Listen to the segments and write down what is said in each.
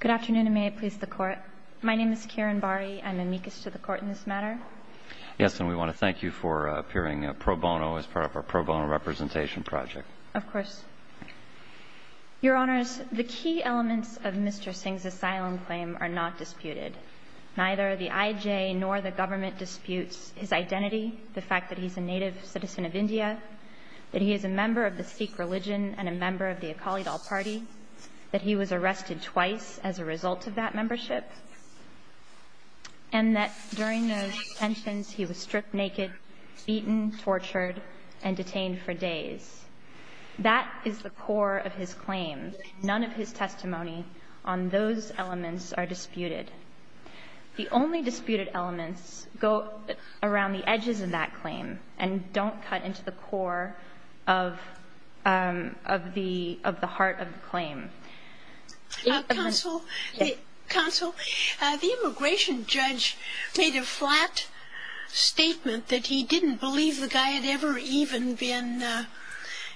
Good afternoon, and may it please the Court. My name is Kiran Bari. I'm amicus to the Court in this matter. Yes, and we want to thank you for appearing pro bono as part of our pro bono representation project. Of course. Your Honors, the key elements of Mr. Singh's asylum claim are not disputed. Neither the IJ nor the government disputes his identity, the fact that he's a native citizen of India, that he is a member of the Sikh religion and a member of the Akali Dal party, that he was arrested twice as a result of that membership, and that during those tensions he was stripped naked, beaten, tortured, and detained for days. That is the core of his claim. None of his testimony on those elements are disputed. The only disputed elements go around the edges of that claim, and they don't cut into the core of the heart of the claim. Counsel, the immigration judge made a flat statement that he didn't believe the guy had ever even been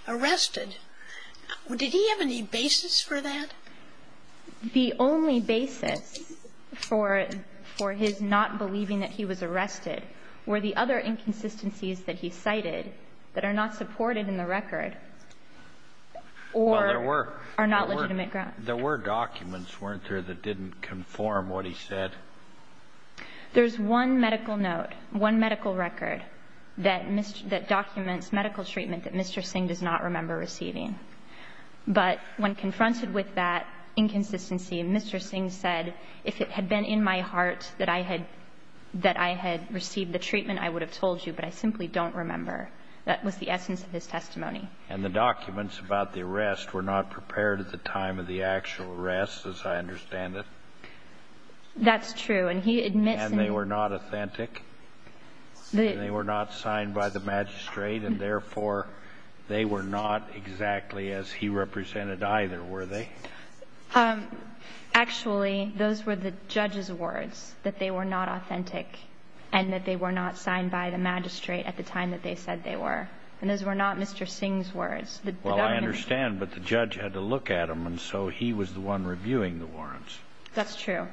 arrested. Did he have any basis for that? The only basis for his not believing that he was arrested were the other inconsistencies that he cited that are not supported in the record or are not legitimate grounds. Well, there were documents, weren't there, that didn't conform what he said? There's one medical note, one medical record, that documents medical treatment that Mr. Singh does not remember receiving. But when confronted with that inconsistency, Mr. Singh said, if it had been in my heart that I had received the treatment, I would have told you, but I simply don't remember. That was the essence of his testimony. And the documents about the arrest were not prepared at the time of the actual arrest, as I understand it? That's true, and he admits... And they were not authentic? And they were not signed by the magistrate, and therefore they were not exactly as he represented either, were they? Actually, those were the judge's words, that they were not authentic, and that they were not signed by the magistrate at the time that they said they were. And those were not Mr. Singh's words. Well, I understand, but the judge had to look at them, and so he was the one reviewing the warrants. That's true.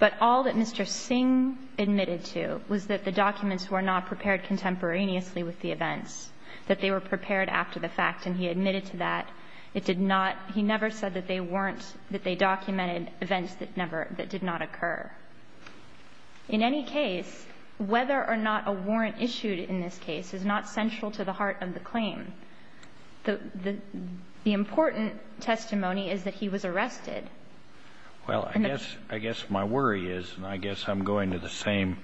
But all that Mr. Singh admitted to was that the documents were not prepared contemporaneously with the events, that they were prepared after the fact. And he admitted to that. He never said that they documented events that did not occur. In any case, whether or not a warrant issued in this case is not central to the heart of the claim. The important testimony is that he was arrested. Well, I guess my worry is, and I guess I'm going to the same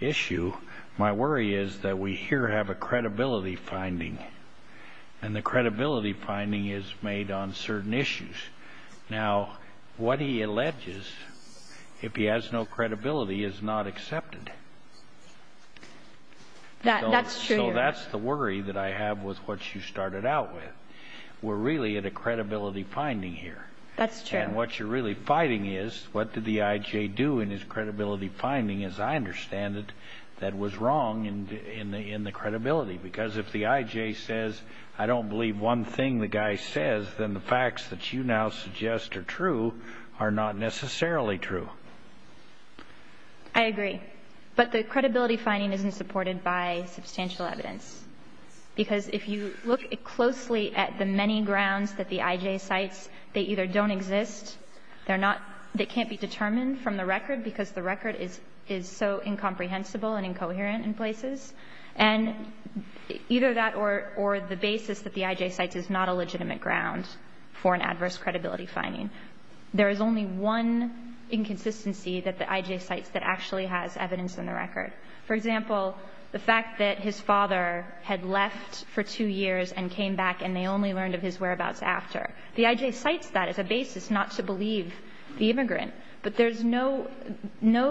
issue, my worry is that we here have a credibility finding, and the credibility finding is made on certain issues. Now, what he alleges, if he has no credibility, is not accepted. That's true. So that's the worry that I have with what you started out with. We're really at a credibility finding here. That's true. And what you're really fighting is, what did the IJ do in his credibility finding? As I understand it, that was wrong in the credibility. Because if the IJ says, I don't believe one thing the guy says, then the facts that you now suggest are true are not necessarily true. I agree. But the credibility finding isn't supported by substantial evidence. Because if you look closely at the many grounds that the IJ cites, they either don't exist, they're not, they can't be determined from the record because the record is so incomprehensible and incoherent in places, and either that or the basis that the IJ cites is not a legitimate ground for an adverse credibility finding. There is only one inconsistency that the IJ cites that actually has evidence in the record. For example, the fact that his father had left for two years and came back and they only learned of his whereabouts after. The IJ cites that as a basis not to believe the immigrant. But there's no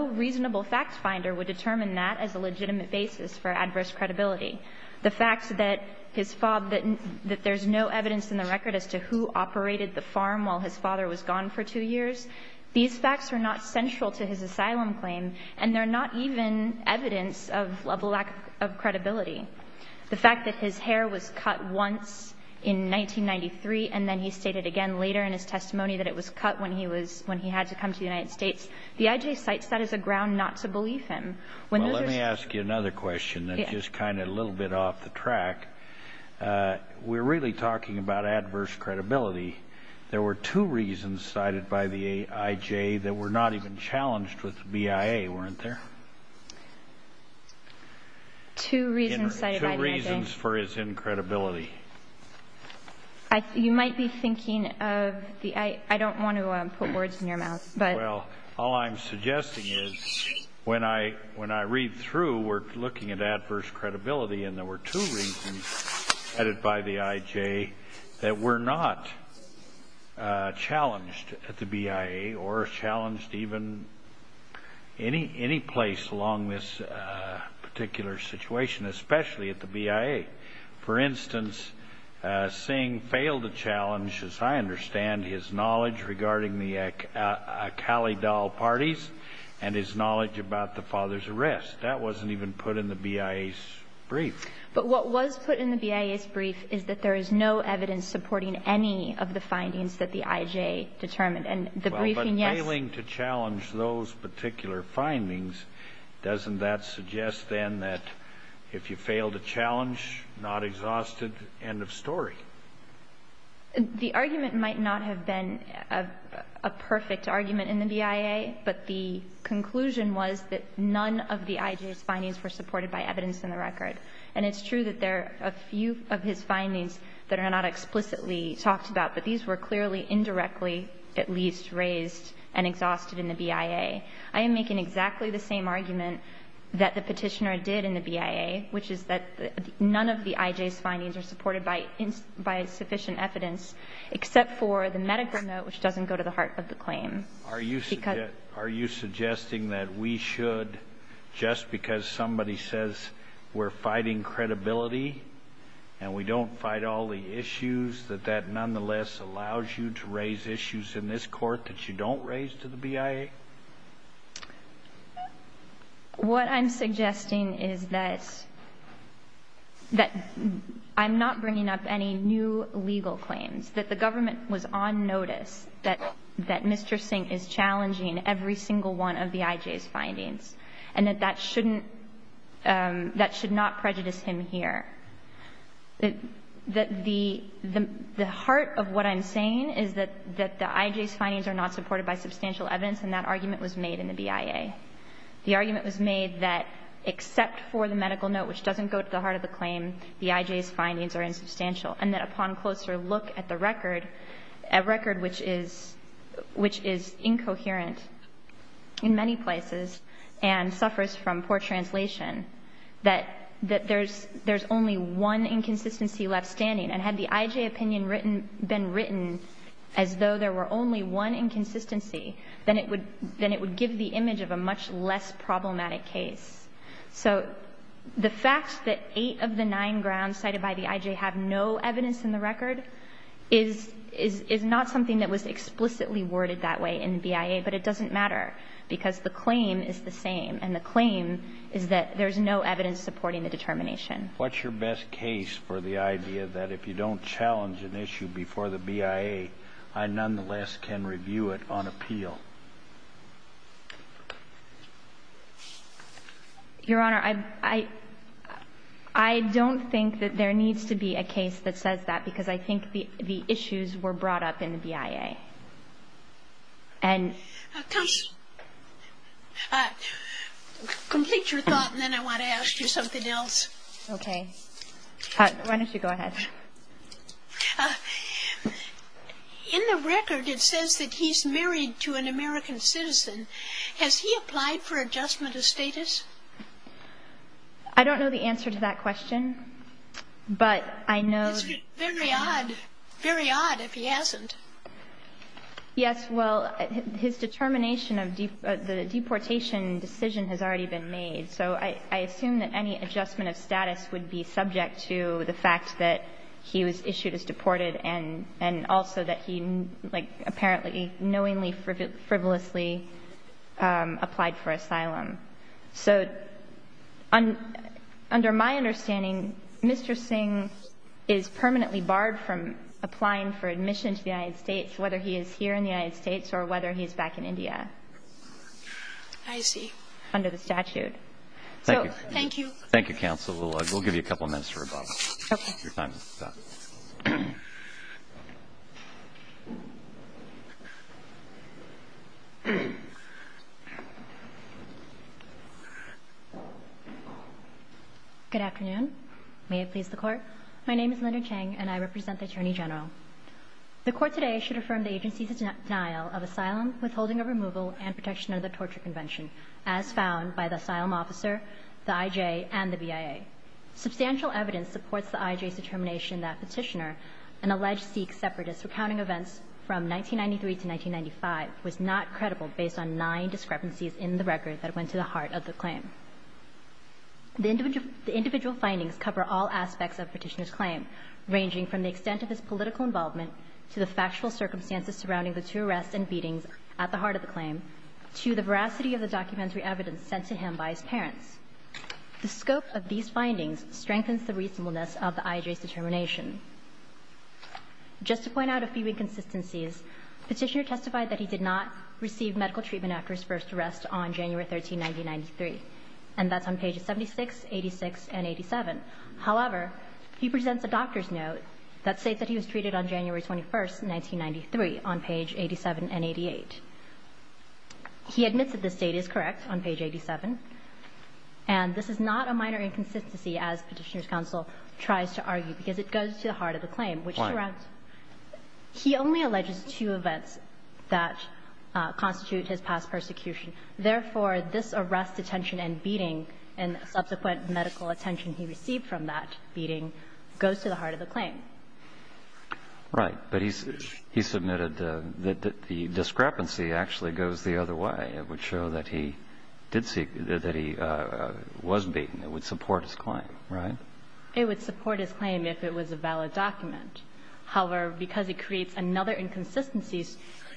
reasonable fact finder would determine that as a legitimate basis for adverse credibility. The fact that his father, that there's no evidence in the record as to who operated the farm while his father was gone for two years, these facts are not central to his asylum claim and they're not even evidence of a lack of credibility. The fact that his hair was cut once in 1993 and then he stated again later in his testimony that it was cut when he had to come to the United States, the IJ cites that as a ground not to believe him. Well, let me ask you another question that's just kind of a little bit off the track. We're really talking about adverse credibility. There were two reasons cited by the IJ that were not even challenged with the BIA, weren't there? Two reasons cited by the IJ. Two reasons for his incredibility. You might be thinking of the IJ. I don't want to put words in your mouth. Well, all I'm suggesting is when I read through, we're looking at adverse credibility and there were two reasons cited by the IJ that were not challenged at the BIA or challenged even any place along this particular situation, especially at the BIA. For instance, Singh failed to challenge, as I understand, his knowledge regarding the Akali Dal parties and his knowledge about the father's arrest. That wasn't even put in the BIA's brief. But what was put in the BIA's brief is that there is no evidence supporting any of the findings that the IJ determined. And the briefing, yes. Well, but failing to challenge those particular findings, doesn't that suggest then that if you fail to challenge, not exhausted, end of story? The argument might not have been a perfect argument in the BIA, but the conclusion was that none of the IJ's findings were supported by evidence in the record. And it's true that there are a few of his findings that are not explicitly talked about, but these were clearly indirectly at least raised and exhausted in the BIA. I am making exactly the same argument that the petitioner did in the BIA, which is that none of the IJ's findings are supported by sufficient evidence, except for the medical note, which doesn't go to the heart of the claim. Are you suggesting that we should, just because somebody says we're fighting credibility and we don't fight all the issues, that that nonetheless allows you to raise issues in this court that you don't raise to the BIA? What I'm suggesting is that I'm not bringing up any new legal claims, that the government was on notice that Mr. Singh is challenging every single one of the IJ's findings, and that that shouldn't, that should not prejudice him here. The heart of what I'm saying is that the IJ's findings are not supported by substantial evidence and that argument was made in the BIA. The argument was made that except for the medical note, which doesn't go to the heart of the claim, the IJ's findings are insubstantial and that upon closer look at the record, a record which is incoherent in many places and suffers from poor translation, that there's only one inconsistency left standing and had the IJ opinion been written as though there were only one inconsistency, then it would give the image of a much less problematic case. So the fact that eight of the nine grounds cited by the IJ have no evidence in the record is not something that was explicitly worded that way in the BIA, but it doesn't matter because the claim is the same and the claim is that there's no evidence supporting the determination. What's your best case for the idea that if you don't challenge an issue before the BIA, I nonetheless can review it on appeal? Your Honor, I don't think that there needs to be a case that says that because I think the issues were brought up in the BIA. Complete your thought and then I want to ask you something else. Okay. Why don't you go ahead. In the record, it says that he's married to an American citizen. Has he applied for adjustment of status? I don't know the answer to that question, but I know It's very odd. Very odd if he hasn't. Yes, well, his determination of the deportation decision has already been made, so I assume that any adjustment of status would be subject to the fact that he was issued as deported and also that he apparently, knowingly, frivolously applied for asylum. So under my understanding, Mr. Singh is permanently barred from applying for admission to the United States, whether he is here in the United States or whether he is back in India. I see. Under the statute. Thank you. Thank you. Thank you, counsel. We'll give you a couple minutes for rebuttal. Okay. Your time is up. Good afternoon. May it please the Court. My name is Linda Chang and I represent the Attorney General. The Court today should affirm the agency's denial of asylum, withholding of removal, and protection under the Torture Convention as found by the asylum officer, the IJ, and the BIA. Substantial evidence supports the IJ's determination that Petitioner, an alleged Sikh separatist recounting events from 1993 to 1995, was not credible based on nine discrepancies in the record that went to the heart of the claim. The individual findings cover all aspects of Petitioner's claim, ranging from the extent of his political involvement to the factual circumstances surrounding the two arrests and beatings at the heart of the claim to the veracity of the documentary evidence sent to him by his parents. The scope of these findings strengthens the reasonableness of the IJ's determination. Just to point out a few inconsistencies, Petitioner testified that he did not receive medical treatment after his first arrest on January 13, 1993, and that's on pages 76, 86, and 87. However, he presents a doctor's note that states that he was treated on January 21, 1993, on page 87 and 88. He admits that this date is correct on page 87, and this is not a minor inconsistency as Petitioner's counsel tries to argue because it goes to the heart of the claim. Why? He only alleges two events that constitute his past persecution. Therefore, this arrest, detention, and beating and subsequent medical attention he received from that beating goes to the heart of the claim. Right. But he submitted that the discrepancy actually goes the other way. It would show that he did seek that he was beaten. It would support his claim. Right? It would support his claim if it was a valid document. However, because it creates another inconsistency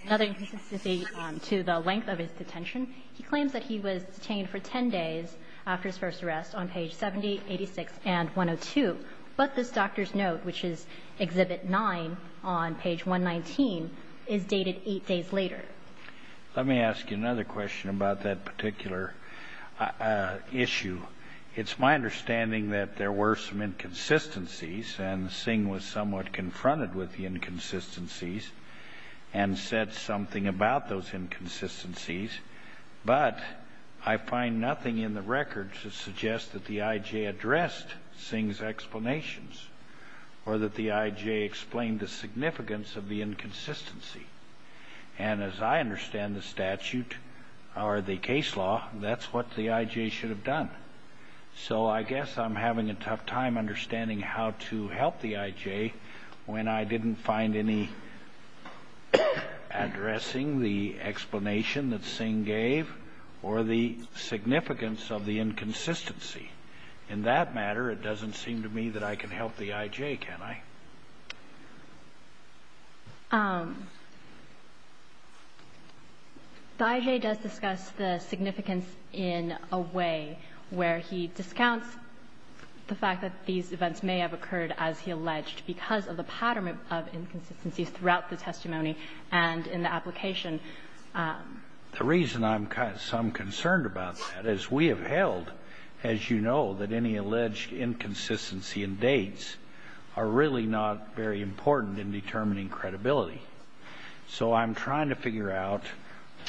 to the length of his detention, he claims that he was detained for 10 days after his first arrest on page 70, 86, and 102. But this doctor's note, which is Exhibit 9 on page 119, is dated 8 days later. Let me ask you another question about that particular issue. It's my understanding that there were some inconsistencies and Singh was somewhat confronted with the inconsistencies and said something about those inconsistencies. But I find nothing in the record to suggest that the I.J. addressed Singh's explanations or that the I.J. explained the significance of the inconsistency. And as I understand the statute or the case law, that's what the I.J. should have done. So I guess I'm having a tough time understanding how to help the I.J. when I didn't find any addressing the explanation that Singh gave or the significance of the inconsistency. In that matter, it doesn't seem to me that I can help the I.J., can I? The I.J. does discuss the significance in a way where he discounts the fact that these events are not And that these events may have occurred as he alleged because of the pattern of inconsistencies throughout the testimony and in the application. The reason I'm concerned about that is we have held, as you know, that any alleged inconsistency and dates are really not very important in determining credibility. So I'm trying to figure out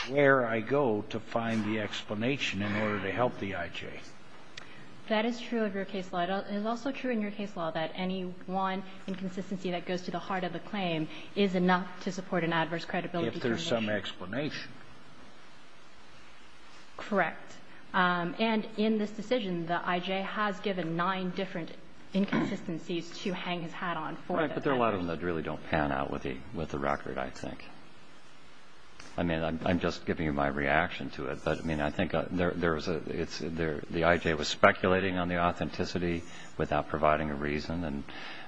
where I go to find the explanation in order to help the I.J. That is true of your case. It is also true in your case law that any one inconsistency that goes to the heart of the claim is enough to support an adverse credibility determination. If there's some explanation. Correct. And in this decision the I.J. has given nine different inconsistencies to hang his hat on. But there are a lot of them that really don't pan out with the record, I think. I'm just giving you my reaction to it. I think the I.J. was speculating on the authenticity without providing a reason.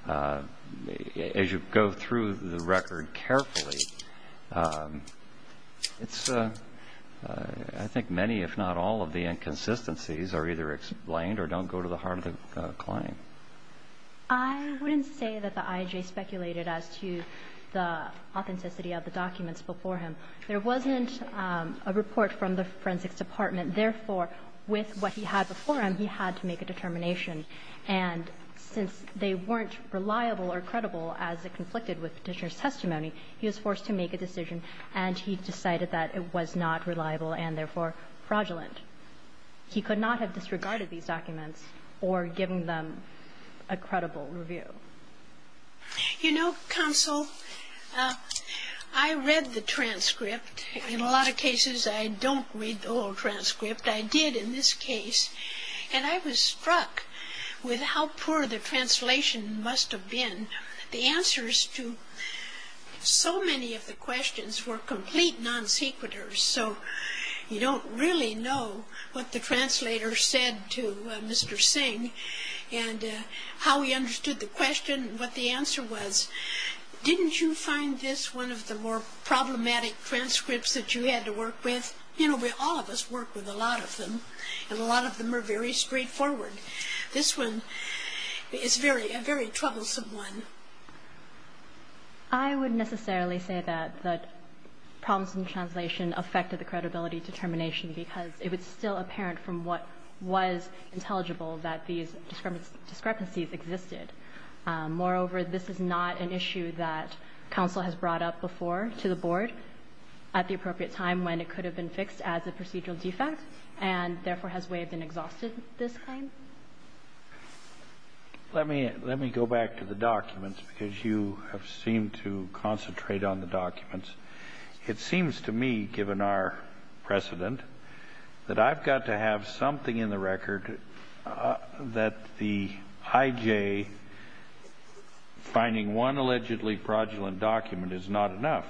As you go through the case, I think many if not all of the inconsistencies are either explained or don't go to the heart of the claim. I wouldn't say that the I.J. speculated as to the authenticity of the documents before him. There wasn't a report from the forensics department. Therefore, with what he had before him, he had to make a determination. And since they weren't reliable or credible as it conflicted petitioner's testimony, he was forced to make a decision and he decided that it was not reliable and, therefore, fraudulent. He could not have disregarded these documents or given them a credible review. You know, Counsel, I read the transcript. In a lot of cases, I don't read the whole transcript. I did in this case and I was struck with how poor the translation must have been. The answers to so many of the questions were complete non-sequiturs, so you don't really know what the translator said to Mr. Singh and how he understood the question and what the answer was. Didn't you find this one of the more problematic transcripts that you had to work with? You know, all of us work with a lot of them and a lot of them are very complicated. I don't think that problems in translation affected the credibility determination because it was still from what was intelligible that these discrepancies existed. Moreover, this is not an issue that counsel has brought up before to the board at the appropriate time when it could have been fixed as a procedural defect and therefore has waived and exhausted this claim. Let me go back to the documents because you have seemed to concentrate on the documents. It seems to me, given our precedent, that I've got to have something in the record that the IJ finding one allegedly fraudulent document is not enough.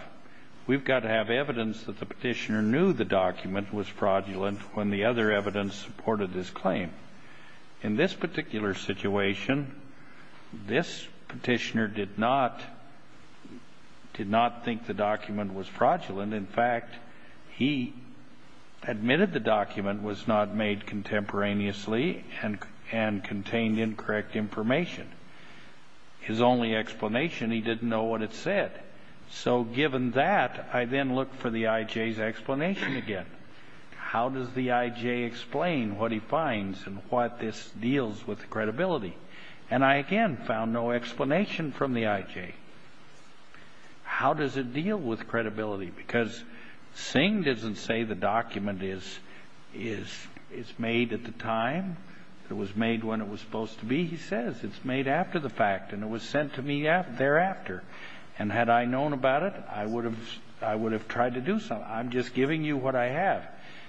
We've got to have evidence that the petitioner knew the document was fraudulent when the other evidence supported his claim. In this particular situation, this petitioner did not think the document was fraudulent. In fact, he admitted the document was not made contemporaneously and contained incorrect information. His only explanation, he didn't know what it said. So, given that, I then looked for the IJ's explanation again. How does the IJ explain what he finds and what this deals with credibility? And I again, found no explanation from the IJ. How does it deal with credibility? Because Singh doesn't say the document is made at the time it was made when it was supposed to be. He says it's made after the fact and it was sent to me thereafter. And had I known about it, I would have tried to do something. I'm just giving you what I have.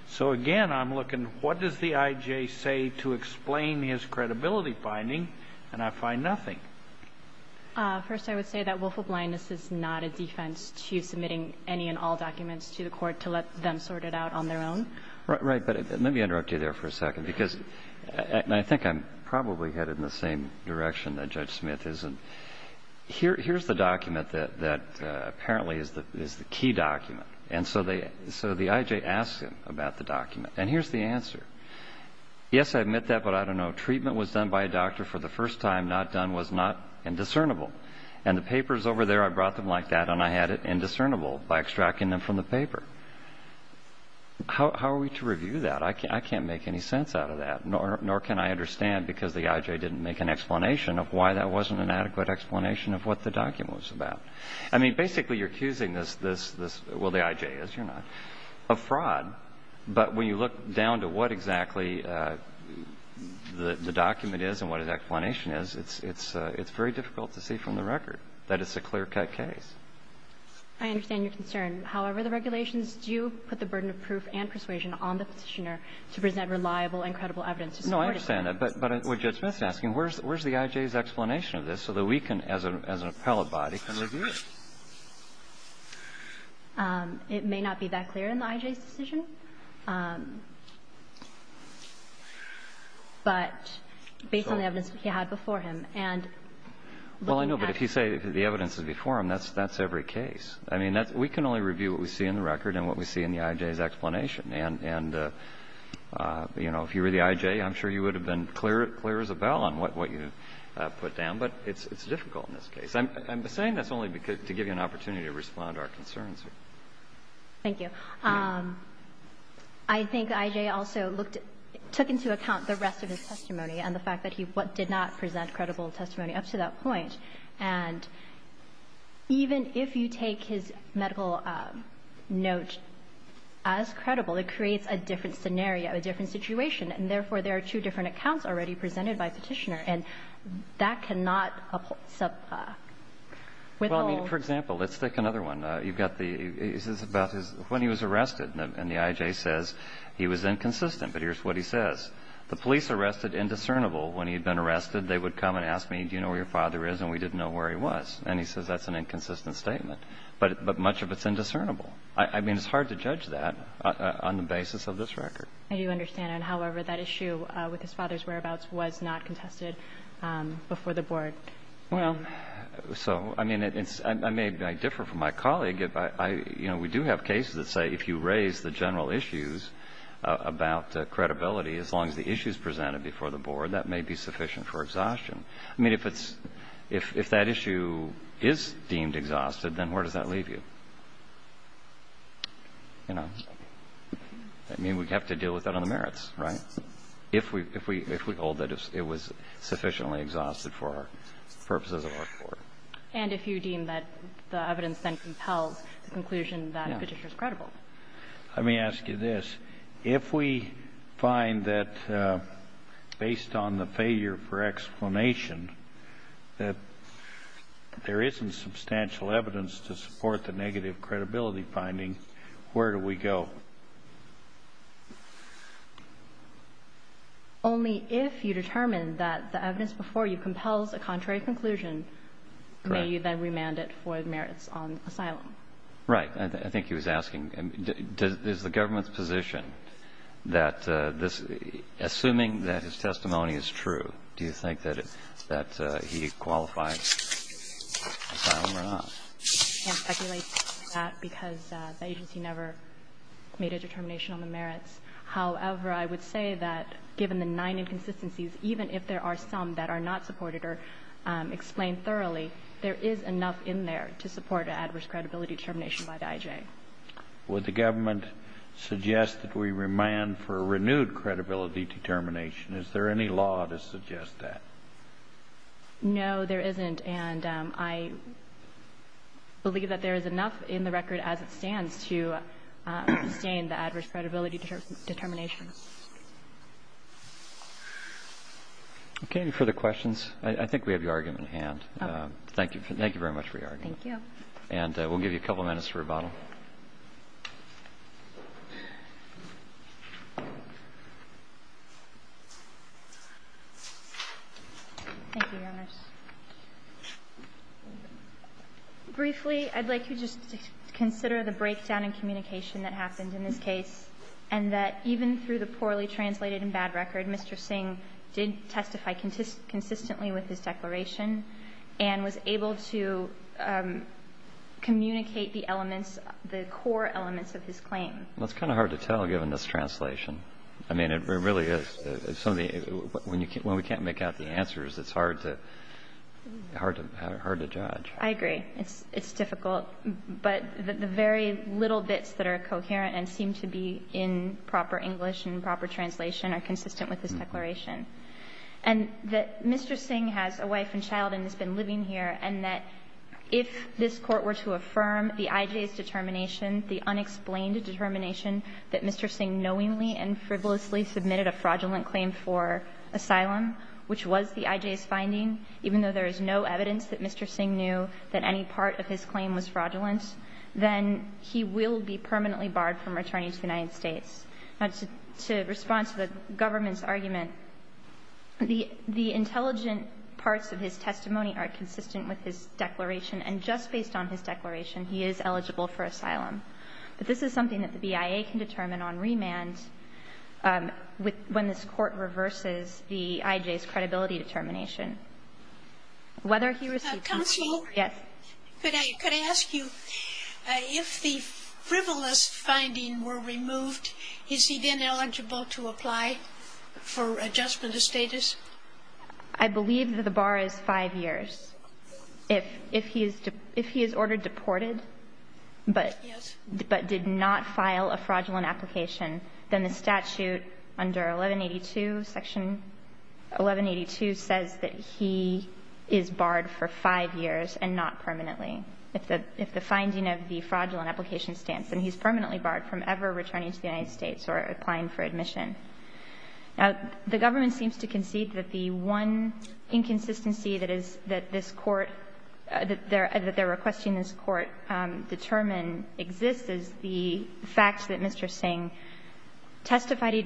So, again, I'm looking, what does the IJ say to explain his credibility finding and I find nothing. First, I would say that willful blindness is not a defense to submitting any and all documents to the court to let them sort it out on their own. Let me interrupt you there for a second. I think I'm probably headed in the same direction that Judge Smith is. Here's the document that apparently is the key document. So the IJ asks him about the document. Here's the answer. Yes, I admit that, but I don't know. Treatment was done by a doctor for the first time. Not done was not indiscernible. And the papers over there I brought them like that and I had it indiscernible by extracting them from the paper. How are we to review that? I can't make any sense out of that. Nor can I understand because the IJ didn't make an explanation of why that wasn't an adequate explanation of what the document was about. You're accusing the IJ of fraud, but when you look down to what exactly the document is and what the explanation is, it's very difficult to see from the record that it's a clear cut case. I understand your concern. However, the regulations do put the burden of proof and persuasion on the Petitioner to present reliable and credible evidence. I understand that, but where's the IJ's explanation of this so we as an appellate body can review it? It may not be that clear in the IJ's decision, but based on the IJ's explanation. If you were the IJ, I'm sure you would have been clear as a bell on what you put down, but it's difficult in this case. I'm saying that only to give you an opportunity to respond to our concerns. Thank you. I think IJ also took into account the rest of his testimony and the fact that he did not present credible testimony up to that point. Even if you take his medical note as credible, it creates a different scenario, a different situation, and therefore there are two different accounts already on the record. The IJ says he was inconsistent, but here's what he says. The police arrested indiscernible when he was arrested. They would come and ask me do you know where your father is. That is an issue. If you raise the general issues about credibility, as long as the issues presented before the board, that may be sufficient for exhaustion. If that issue is deemed exhausted, where does that leave you? You know. I mean, we'd have to deal with that on the merits, right? If we hold that it was sufficiently exhausted for the purposes of our court. And if you deem that the evidence then compels the conclusion that the evidence before you compels a contrary conclusion, the merits on asylum? Right. I think that that is the best way to do it. If we can do it. I think he was asking does the government's position that assuming that his testimony is true, do you think that he qualifies asylum or not? I can't speculate that because the agency never made a determination on the merits. However, I would say that given the nine inconsistencies, even if some that are not supported or explained thoroughly, there is enough in there to support an adverse credibility determination by the I.J. Would the agency sustain the adverse credibility determination? Any further questions? I think we have your argument in hand. Thank you very much for your argument. We'll give you a couple minutes for rebuttal. Thank you, Your Honor. Briefly, I would like to just consider the breakdown in communication that happened in this case and that even through the poorly translated and bad record, Mr. Singh did testify consistently with his declaration and was able to communicate the elements, the core elements, the very little bits that are coherent and seem to be in proper English and proper translation are consistent with his declaration. Mr. Singh has a wife and child and has been living here. If this testimony is fraudulent, then he will be permanently barred from returning to the United States. To respond to the government's argument, the intelligent parts of his testimony are consistent with his declaration and just based on his declaration he is eligible for asylum. But this is something that the BIA can determine on remand when this court reverses the IJ's credibility determination. Counsel, could I ask you, if the frivolous finding were removed, is he then eligible to apply for adjustment status? I believe that the bar is five years. If he is ordered deported but did not file a fraudulent application, then the statute under 1182 says that he is barred for five years and not permanently. If the finding of the fraudulent application states that he is permanently barred from ever returning to the United States or applying for admission. Now, the government seems to concede that the one inconsistency that is that this court that they are requesting this court determine exists is the fact that the fact that he testified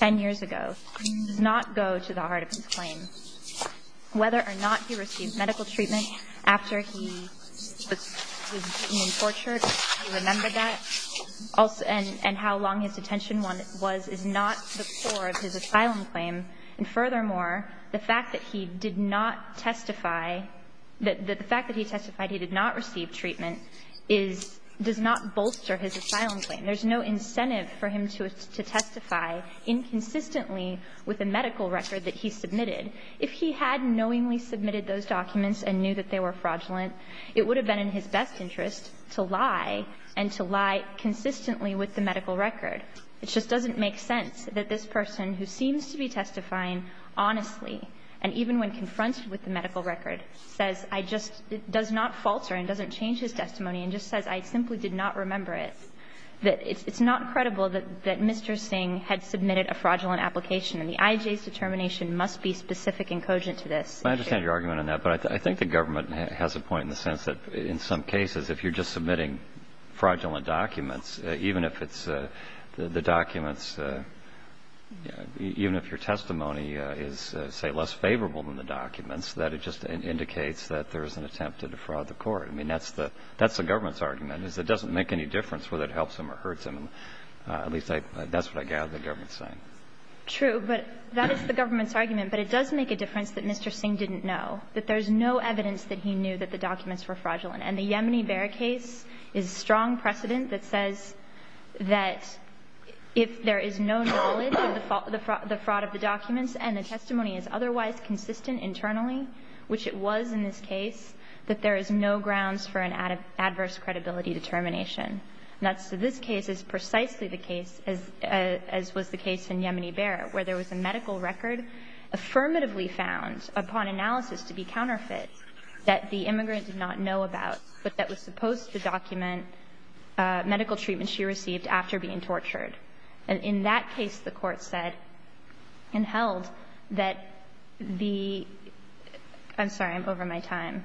ten years ago does not go to the heart of his claim. Whether or not he received medical treatment after he was tortured and remembered that and how long his detention was is not the core of his asylum claim. So, if he testified inconsistently with a medical record that he submitted, if he had knowingly submitted those documents and knew they were fraudulent, it would have been in his best interest to lie and to lie consistently with the evidence that he had submitted a fraudulent application. And the IJ's determination must be specific and cogent to this issue. I understand your argument on that, but I think the government has a point in the sense that in some cases if you're just submitting fraudulent documents, even if it's the documents, even if your testimony is, say, less favorable than the documents, that it just indicates that there is an attempt to defraud the court. I mean, that's the government's argument. It doesn't make any difference whether it fraudulent document that says that if there is no knowledge of the fraud of the documents and the testimony is otherwise consistent internally, which it was in this case, that there is no grounds for an adverse credibility determination. And that's so this case is precisely the case as was the case in Yemeni Bear where there was a medical record affirmatively found upon analysis to be counterfeit that the immigrant did not know about but that was supposed to document medical treatment she received after being tortured. And in that case the court said and held that the I'm sorry I'm over my time.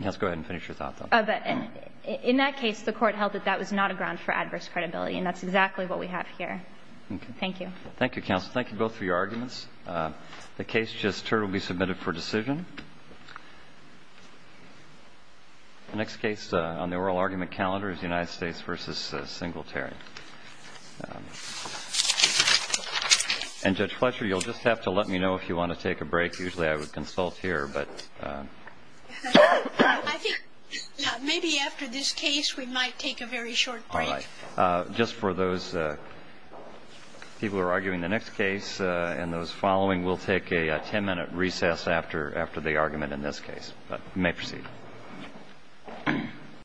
Let's go ahead and finish your thoughts. In that case the court held that that was not a ground for adverse credibility and that's exactly what we have here. Thank you. Thank you counsel. Thank you To release this case with this case with her case versus singletary. Judge Fletcher you'll just have to let me know if you want to take a break. Usually I would consult here. I think maybe after this case we might take a very short tip. Just for those people arguing the next case and the following we will take a ten minute recess after the argument in this case.